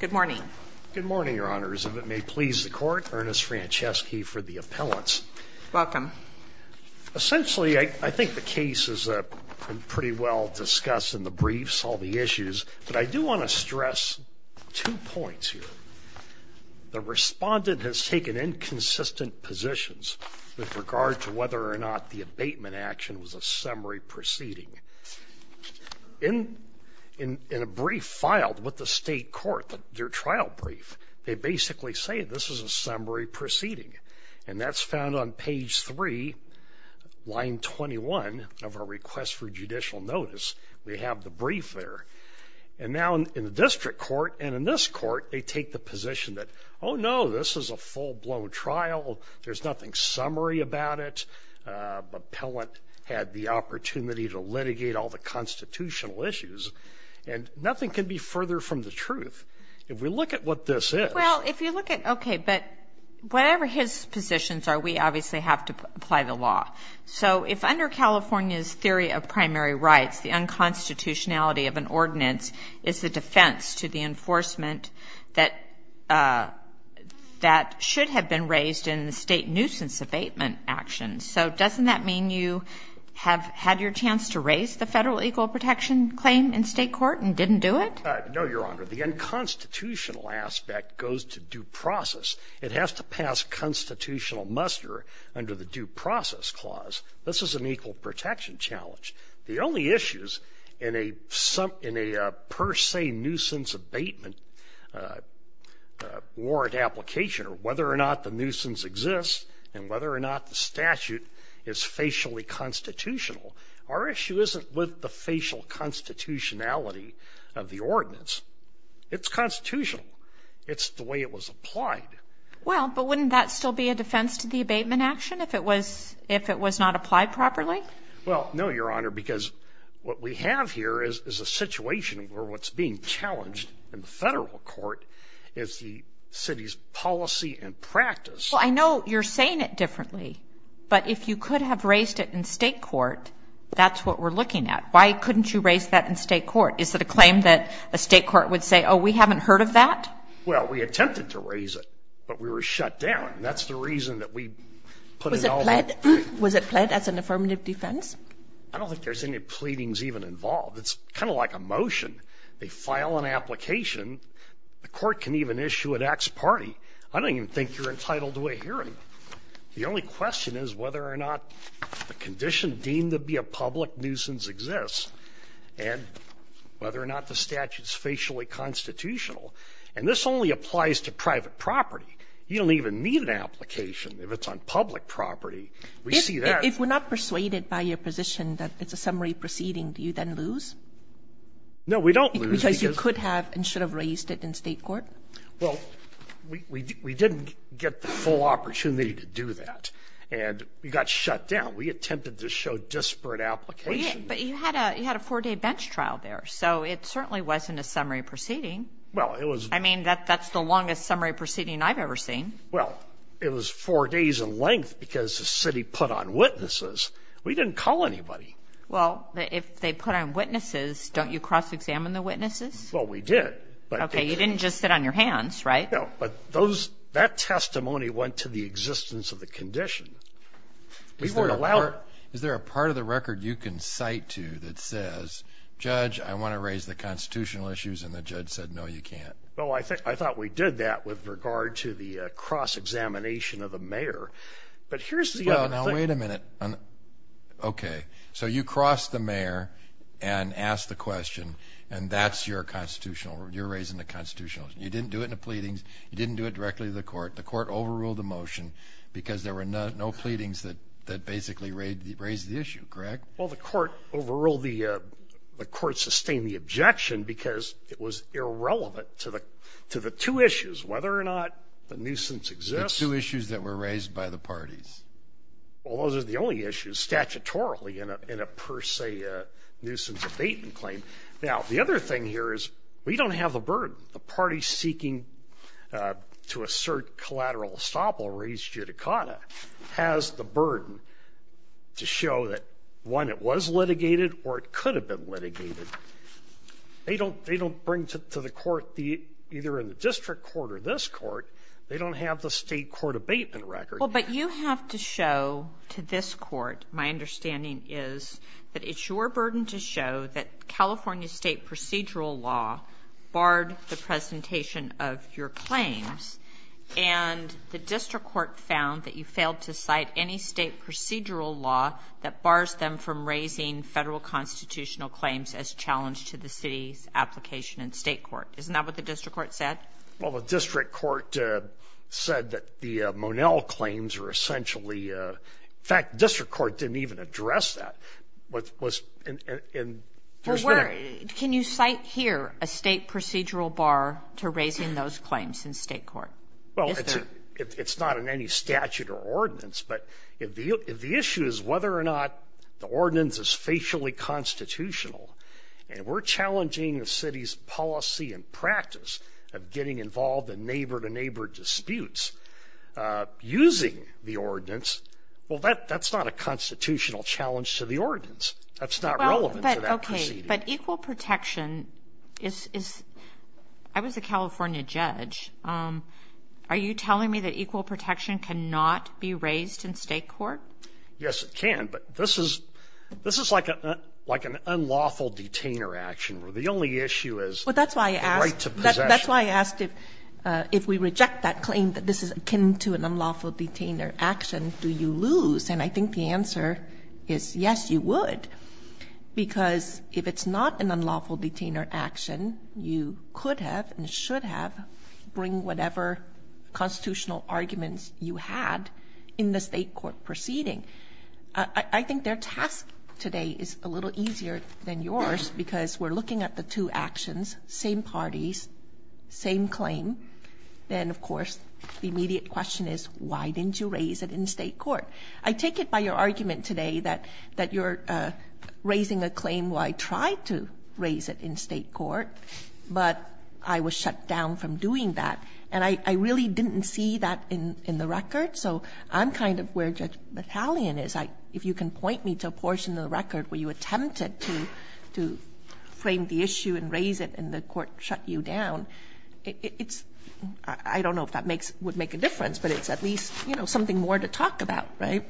Good morning. Good morning, your honors. If it may please the court, Ernest Franceschi for the appellants. Welcome. Essentially, I think the case is pretty well discussed in the briefs, all the issues, but I do want to stress two points here. The respondent has taken inconsistent positions with regard to whether or not the abatement action was a summary proceeding. In a brief filed with the state court, their trial brief, they basically say this is a summary proceeding. And that's found on page 3, line 21 of our request for judicial notice. We have the brief there. And now in the district court and in this court, they take the position that, oh no, this is a full-blown trial. There's nothing summary about it. The appellant had the opportunity to litigate all the further from the truth. If we look at what this is. Well, if you look at, okay, but whatever his positions are, we obviously have to apply the law. So if under California's theory of primary rights, the unconstitutionality of an ordinance is the defense to the enforcement that that should have been raised in the state nuisance abatement actions. So doesn't that mean you have had your chance to raise the federal equal protection claim in state court and didn't do it? No, Your Honor. The unconstitutional aspect goes to due process. It has to pass constitutional muster under the due process clause. This is an equal protection challenge. The only issues in a per se nuisance abatement warrant application or whether or not the nuisance exists and whether or not the statute is facially constitutional. Our issue isn't with the of the ordinance. It's constitutional. It's the way it was applied. Well, but wouldn't that still be a defense to the abatement action if it was if it was not applied properly? Well, no, Your Honor, because what we have here is a situation where what's being challenged in the federal court is the city's policy and practice. I know you're saying it differently, but if you could have raised it in state court, that's what we're looking at. Why couldn't you raise that in state court? Is that a claim that a state court would say, Oh, we haven't heard of that? Well, we attempted to raise it, but we were shut down. That's the reason that we put it all in. Was it pled as an affirmative defense? I don't think there's any pleadings even involved. It's kind of like a motion. They file an application. The court can even issue an ax party. I don't even think you're entitled to a hearing. The only question is whether or not a condition deemed to be a public nuisance exists, and whether or not the statute is facially constitutional. And this only applies to private property. You don't even need an application if it's on public property. We see that as an affirmative defense. If we're not persuaded by your position that it's a summary proceeding, do you then lose? No, we don't lose because you could have and should have raised it in state court. Well, we didn't get the full opportunity to do that, and we got shut down. We attempted to show disparate application. But you had a four-day bench trial there, so it certainly wasn't a summary proceeding. I mean, that's the longest summary proceeding I've ever seen. Well, it was four days in length because the city put on witnesses. We didn't call anybody. Well, if they put on witnesses, don't you cross-examine the witnesses? Well, we did. Okay, you didn't just sit on your hands, right? No, but that testimony went to the existence of the condition. We weren't allowed... Is there a part of the record you can cite to that says, Judge, I want to raise the constitutional issues, and the judge said, No, you can't. Well, I thought we did that with regard to the cross-examination of the mayor. But here's the other thing... Well, now wait a minute. Okay, so you cross the mayor and ask the question, and that's your constitutional... You're raising the constitutional issue. You didn't do it in the pleadings. You didn't do it directly to the court. The court overruled the motion because there were no pleadings that basically raised the issue, correct? Well, the court overruled the... The court sustained the objection because it was irrelevant to the two issues, whether or not the nuisance exists. The two issues that were raised by the parties. Well, those are the only issues, statutorily, in a per se nuisance abatement claim. Now, the other thing here is we don't have the burden. The party seeking to assert collateral estoppel raised judicata has the burden to show that, one, it was litigated or it could have been litigated. They don't bring to the court, either in the district court or this court, they don't have the state court abatement record. Well, but you have to show to this court, my understanding is, that it's your burden to show that California state procedural law barred the presentation of your claims and the district court found that you failed to cite any state procedural law that bars them from raising federal constitutional claims as challenged to the city's application in state court. Isn't that what the district court said? Well, the district court said that the Monell claims are essentially... In fact, the district court didn't even address that. It was in... Can you cite here a state procedural bar to raising those claims in state court? Well, it's not in any statute or ordinance, but if the issue is whether or not the ordinance is facially constitutional and we're challenging the city's policy and practice of getting involved in neighbor-to-neighbor disputes using the ordinance, well, that's not a constitutional challenge to the ordinance. That's not relevant to that proceeding. But equal protection is... I was a California judge. Are you telling me that equal protection cannot be raised in state court? Yes, it can, but this is like an unlawful detainer action, where the only issue is the right to possession. That's why I asked if we reject that claim that this is akin to an unlawful detainer action, do you lose? And I think the answer is yes, you would. Because if it's not an unlawful detainer action, you could have and should have bring whatever constitutional arguments you had in the state court proceeding. I think their task today is a little easier than yours, because we're looking at the two actions, same parties, same claim. Then, of course, the immediate question is, why didn't you raise it in state court? I take it by your argument today that you're raising a claim, well, I tried to raise it in state court, but I was shut down from doing that. And I really didn't see that in the record, so I'm kind of where Judge Battalion is. If you can point me to a portion of the record where you attempted to frame the issue and raise it and the court shut you down, it's, I don't know if that would make a difference, but it's at least something more to talk about, right?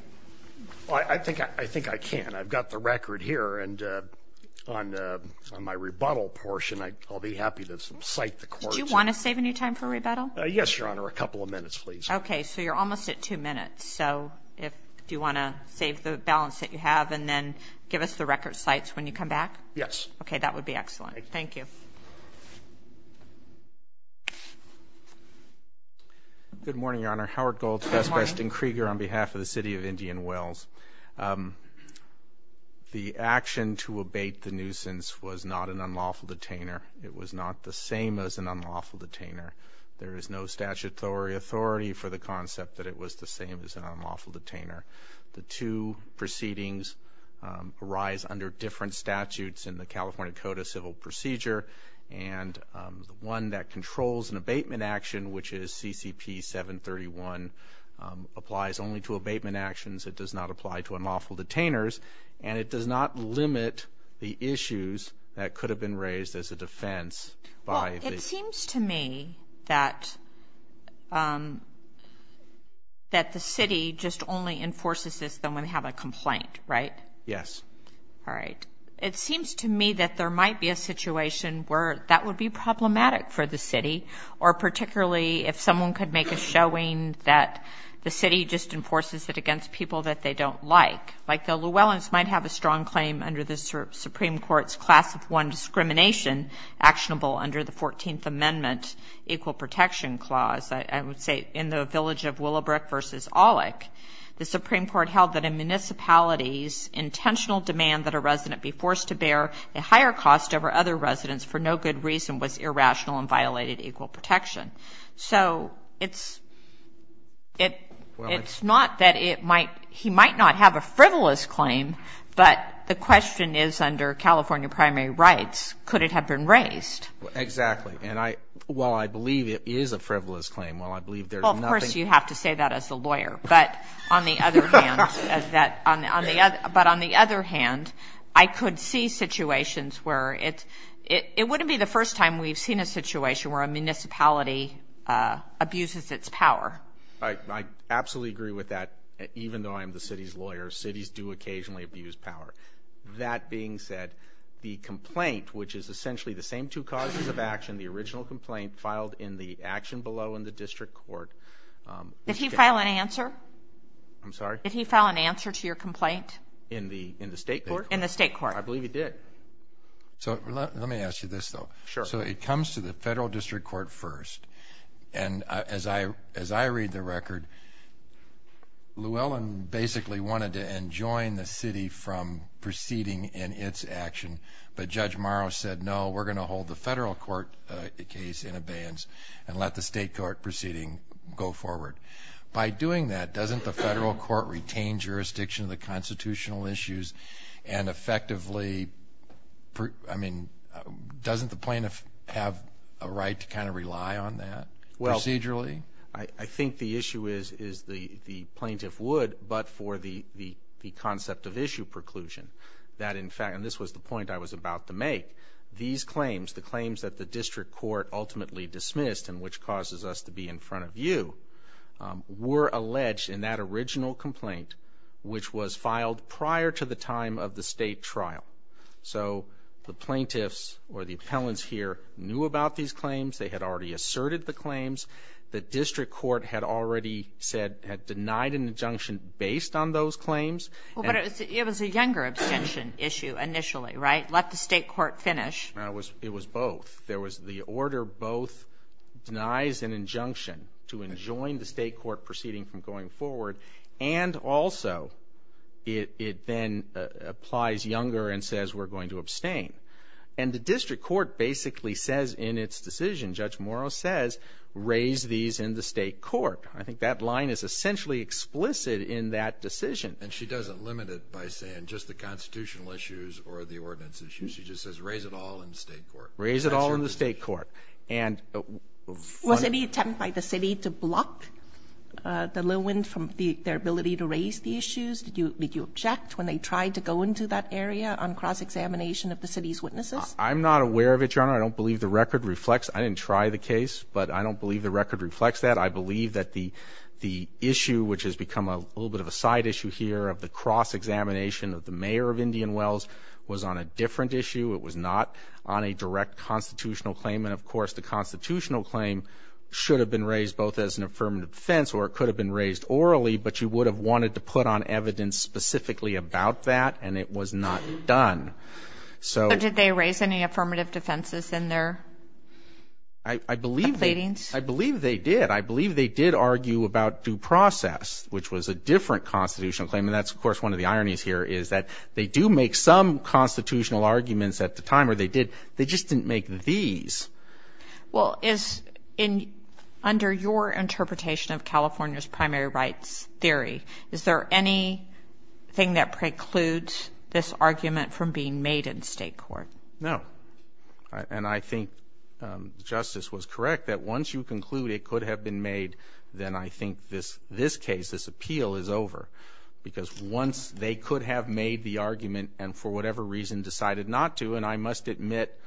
I think I can. I've got the record here, and on my rebuttal portion, I'll be happy to cite the court's Do you want to save any time for rebuttal? Yes, Your Honor, a couple of minutes, please. Okay. So you're almost at two minutes. So, if you want to save the balance that you have and then give us the record cites when you come back? Yes. Okay, that would be excellent. Thank you. Good morning, Your Honor. Howard Golds, best best in Krieger on behalf of the city of Indian Wells. The action to abate the nuisance was not an unlawful detainer. It was not the same as an unlawful detainer. There is no statutory authority for the concept that it was the same as an unlawful detainer. The two proceedings arise under different statutes in the California Code of Civil Procedure, and the one that controls an abatement action, which is CCP 731, applies only to abatement actions. It does not apply to unlawful detainers, and it does not limit the issues that could have been raised as a defense by the- That the city just only enforces this when they have a complaint, right? Yes. All right. It seems to me that there might be a situation where that would be problematic for the city, or particularly if someone could make a showing that the city just enforces it against people that they don't like. Like the Llewellyns might have a strong claim under the Supreme Court's class of one discrimination actionable under the 14th Amendment Equal Protection Clause, I would say, in the village of Willowbrook versus Aulik. The Supreme Court held that in municipalities, intentional demand that a resident be forced to bear a higher cost over other residents for no good reason was irrational and violated equal protection. So it's not that it might- he might not have a frivolous claim, but the question is under California primary rights, could it have been raised? Exactly. And I- while I believe it is a frivolous claim, while I believe there's nothing- Well, of course, you have to say that as a lawyer. But on the other hand, as that- but on the other hand, I could see situations where it's- it wouldn't be the first time we've seen a situation where a municipality abuses its power. I absolutely agree with that, even though I am the city's lawyer. Cities do occasionally abuse power. That being said, the complaint, which is essentially the same two causes of action, the original complaint filed in the action below in the district court- Did he file an answer? I'm sorry? Did he file an answer to your complaint? In the state court? In the state court. I believe he did. So let me ask you this, though. Sure. So it comes to the federal district court first, and as I- as I read the record, Llewellyn basically wanted to enjoin the city from proceeding in its action, but Judge Morrow said, no, we're going to hold the federal court case in abeyance and let the state court proceeding go forward. By doing that, doesn't the federal court retain jurisdiction of the constitutional issues and effectively- I mean, doesn't the plaintiff have a right to kind of rely on that procedurally? I think the issue is the plaintiff would, but for the concept of issue preclusion. That in fact- and this was the point I was about to make. These claims, the claims that the district court ultimately dismissed and which causes us to be in front of you, were alleged in that original complaint, which was filed prior to the time of the state trial. So the plaintiffs or the appellants here knew about these claims. They had already asserted the claims. The district court had already said- had denied an injunction based on those claims. Well, but it was a younger abstention issue initially, right? Let the state court finish. It was both. There was the order both denies an injunction to enjoin the state court proceeding from going forward, and also it then applies younger and says we're going to abstain. And the district court basically says in its decision, Judge Morrow says, raise these in the state court. I think that line is essentially explicit in that decision. And she doesn't limit it by saying just the constitutional issues or the ordinance issues. She just says raise it all in the state court. Raise it all in the state court. And- Was any attempt by the city to block the Lewins from their ability to raise the issues? Did you- Did you object when they tried to go into that area on cross-examination of the city's witnesses? I'm not aware of it, Your Honor. I don't believe the record reflects- I didn't try the case, but I don't believe the record reflects that. I believe that the issue, which has become a little bit of a side issue here of the cross-examination of the mayor of Indian Wells was on a different issue. It was not on a direct constitutional claim. And of course, the constitutional claim should have been raised both as an affirmative defense or it could have been raised orally, but you would have wanted to put on evidence specifically about that, and it was not done. So- But did they raise any affirmative defenses in their- I believe- Complainings? I believe they did. I believe they did argue about due process, which was a different constitutional claim. And that's, of course, one of the ironies here is that they do make some constitutional arguments at the time, or they did- they just didn't make these. Well, is in- under your interpretation of California's primary rights theory, is there anything that precludes this argument from being made in state court? No. And I think Justice was correct that once you conclude it could have been made, then I think this case, this appeal is over. Because once they could have made the argument and for whatever reason decided not to, and I must admit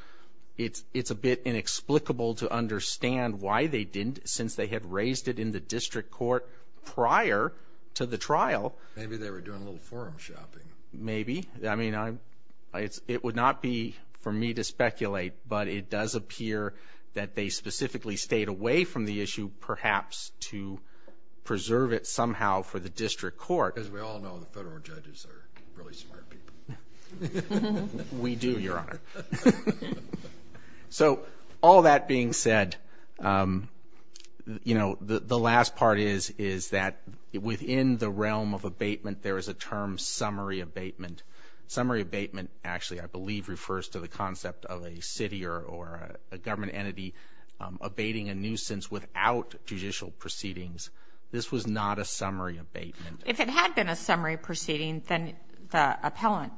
it's a bit inexplicable to understand why they didn't, since they had raised it in the district court prior to the trial. Maybe they were doing a little forum shopping. Maybe. I mean, I'm- it would not be for me to speculate, but it does appear that they specifically stayed away from the issue, perhaps to preserve it somehow for the district court. Because we all know the federal judges are really smart people. We do, Your Honor. So all that being said, you know, the last part is, is that within the realm of abatement, there is a term summary abatement. Summary abatement actually, I believe, refers to the concept of a city or a government entity abating a nuisance without judicial proceedings. This was not a summary abatement. If it had been a summary proceeding, then the appellant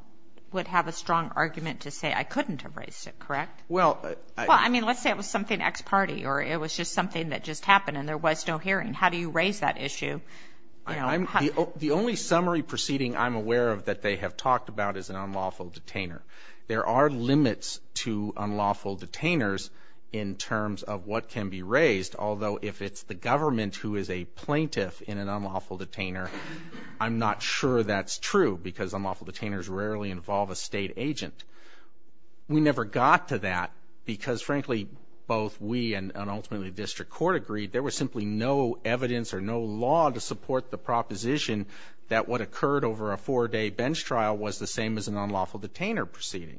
would have a strong argument to say, I couldn't have raised it, correct? Well, I- Well, I mean, let's say it was something ex parte or it was just something that just happened and there was no hearing. How do you raise that issue, you know? The only summary proceeding I'm aware of that they have talked about is an unlawful detainer. There are limits to unlawful detainers in terms of what can be raised, although if it's the government who is a plaintiff in an unlawful detainer, I'm not sure that's true because unlawful detainers rarely involve a state agent. We never got to that because, frankly, both we and ultimately the district court agreed there was simply no evidence or no law to support the proposition that what occurred over a four-day bench trial was the same as an unlawful detainer proceeding.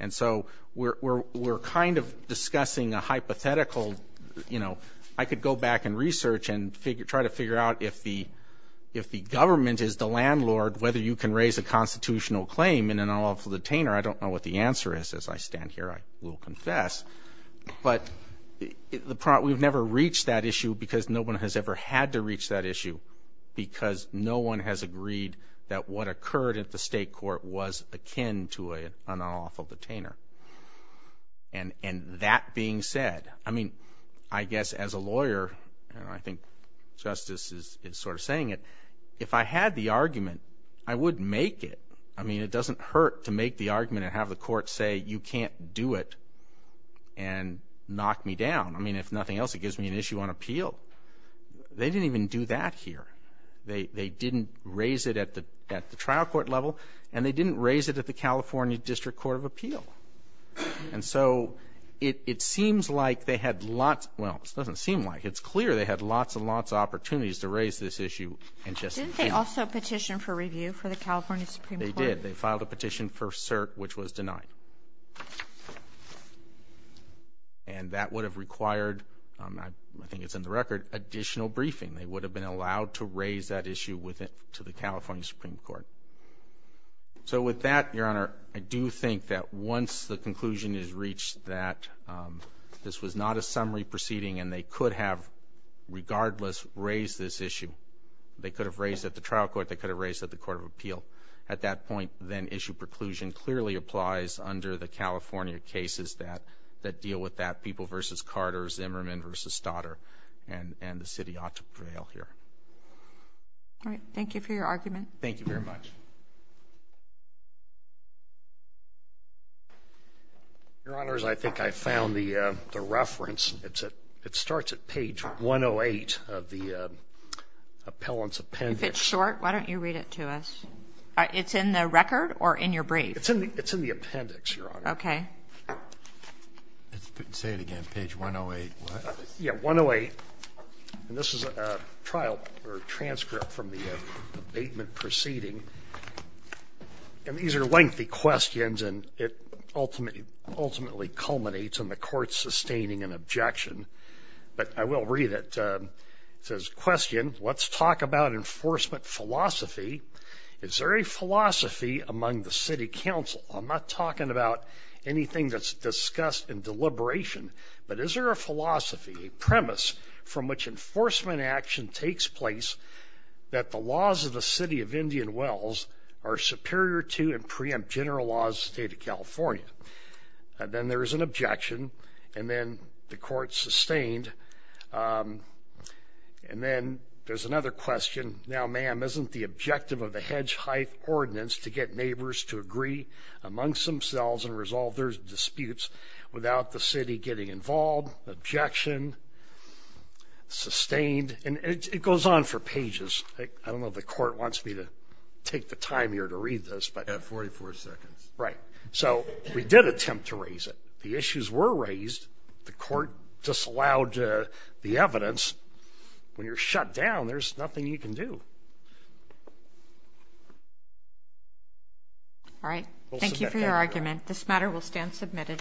And so we're kind of discussing a hypothetical, you know, I could go back and research and try to figure out if the government is the landlord, whether you can raise a constitutional claim in an unlawful detainer. I don't know what the answer is. As I stand here, I will confess. But we've never reached that issue because no one has ever had to reach that issue because no one has agreed that what occurred at the state court was akin to an unlawful detainer. And that being said, I mean, I guess as a lawyer, and I think justice is sort of saying it, if I had the argument, I would make it. I mean, it doesn't hurt to make the argument and have the court say, you can't do it and knock me down. I mean, if nothing else, it gives me an issue on appeal. They didn't even do that here. They didn't raise it at the trial court level, and they didn't raise it at the California District Court of Appeal. And so it seems like they had lots, well, it doesn't seem like, it's clear they had lots and lots of opportunities to raise this issue and just. Didn't they also petition for review for the California Supreme Court? They did. They filed a petition for cert, which was denied. And that would have required, I think it's in the record, additional briefing. They would have been allowed to raise that issue with it to the California Supreme Court. So with that, your honor, I do think that once the conclusion is reached that this was not a summary proceeding and they could have, regardless, raised this issue, they could have raised it at the trial court, they could have raised it at the court of appeal. At that point, then issue preclusion clearly applies under the California cases that deal with that, People v. Carter's, Emmerman v. Stoddard, and the city ought to prevail here. All right. Thank you for your argument. Thank you very much. Your honors, I think I found the reference. It's at, it starts at page 108 of the appellant's appendix. If it's short, why don't you read it to us? It's in the record or in your brief? It's in the appendix, your honor. Okay. Say it again, page 108. Yeah, 108. And this is a trial or a transcript from the abatement proceeding. And these are lengthy questions and it ultimately culminates in the court sustaining an objection, but I will read it. It says, question, let's talk about enforcement philosophy. Is there a philosophy among the city council? I'm not talking about anything that's discussed in deliberation, but is there a philosophy, a premise from which enforcement action takes place that the laws of the city of Indian Wells are superior to and preempt general laws, state of California, and then there was an objection and then the court sustained, and then there's another question. Now, ma'am, isn't the objective of the hedge height ordinance to get neighbors to agree amongst themselves and resolve their disputes without the city getting involved, objection, sustained, and it goes on for pages. I don't know if the court wants me to take the time here to read this, but. You have 44 seconds. Right. So we did attempt to raise it. The issues were raised. The court disallowed the evidence. When you're shut down, there's nothing you can do. All right. Thank you for your argument. This matter will stand submitted.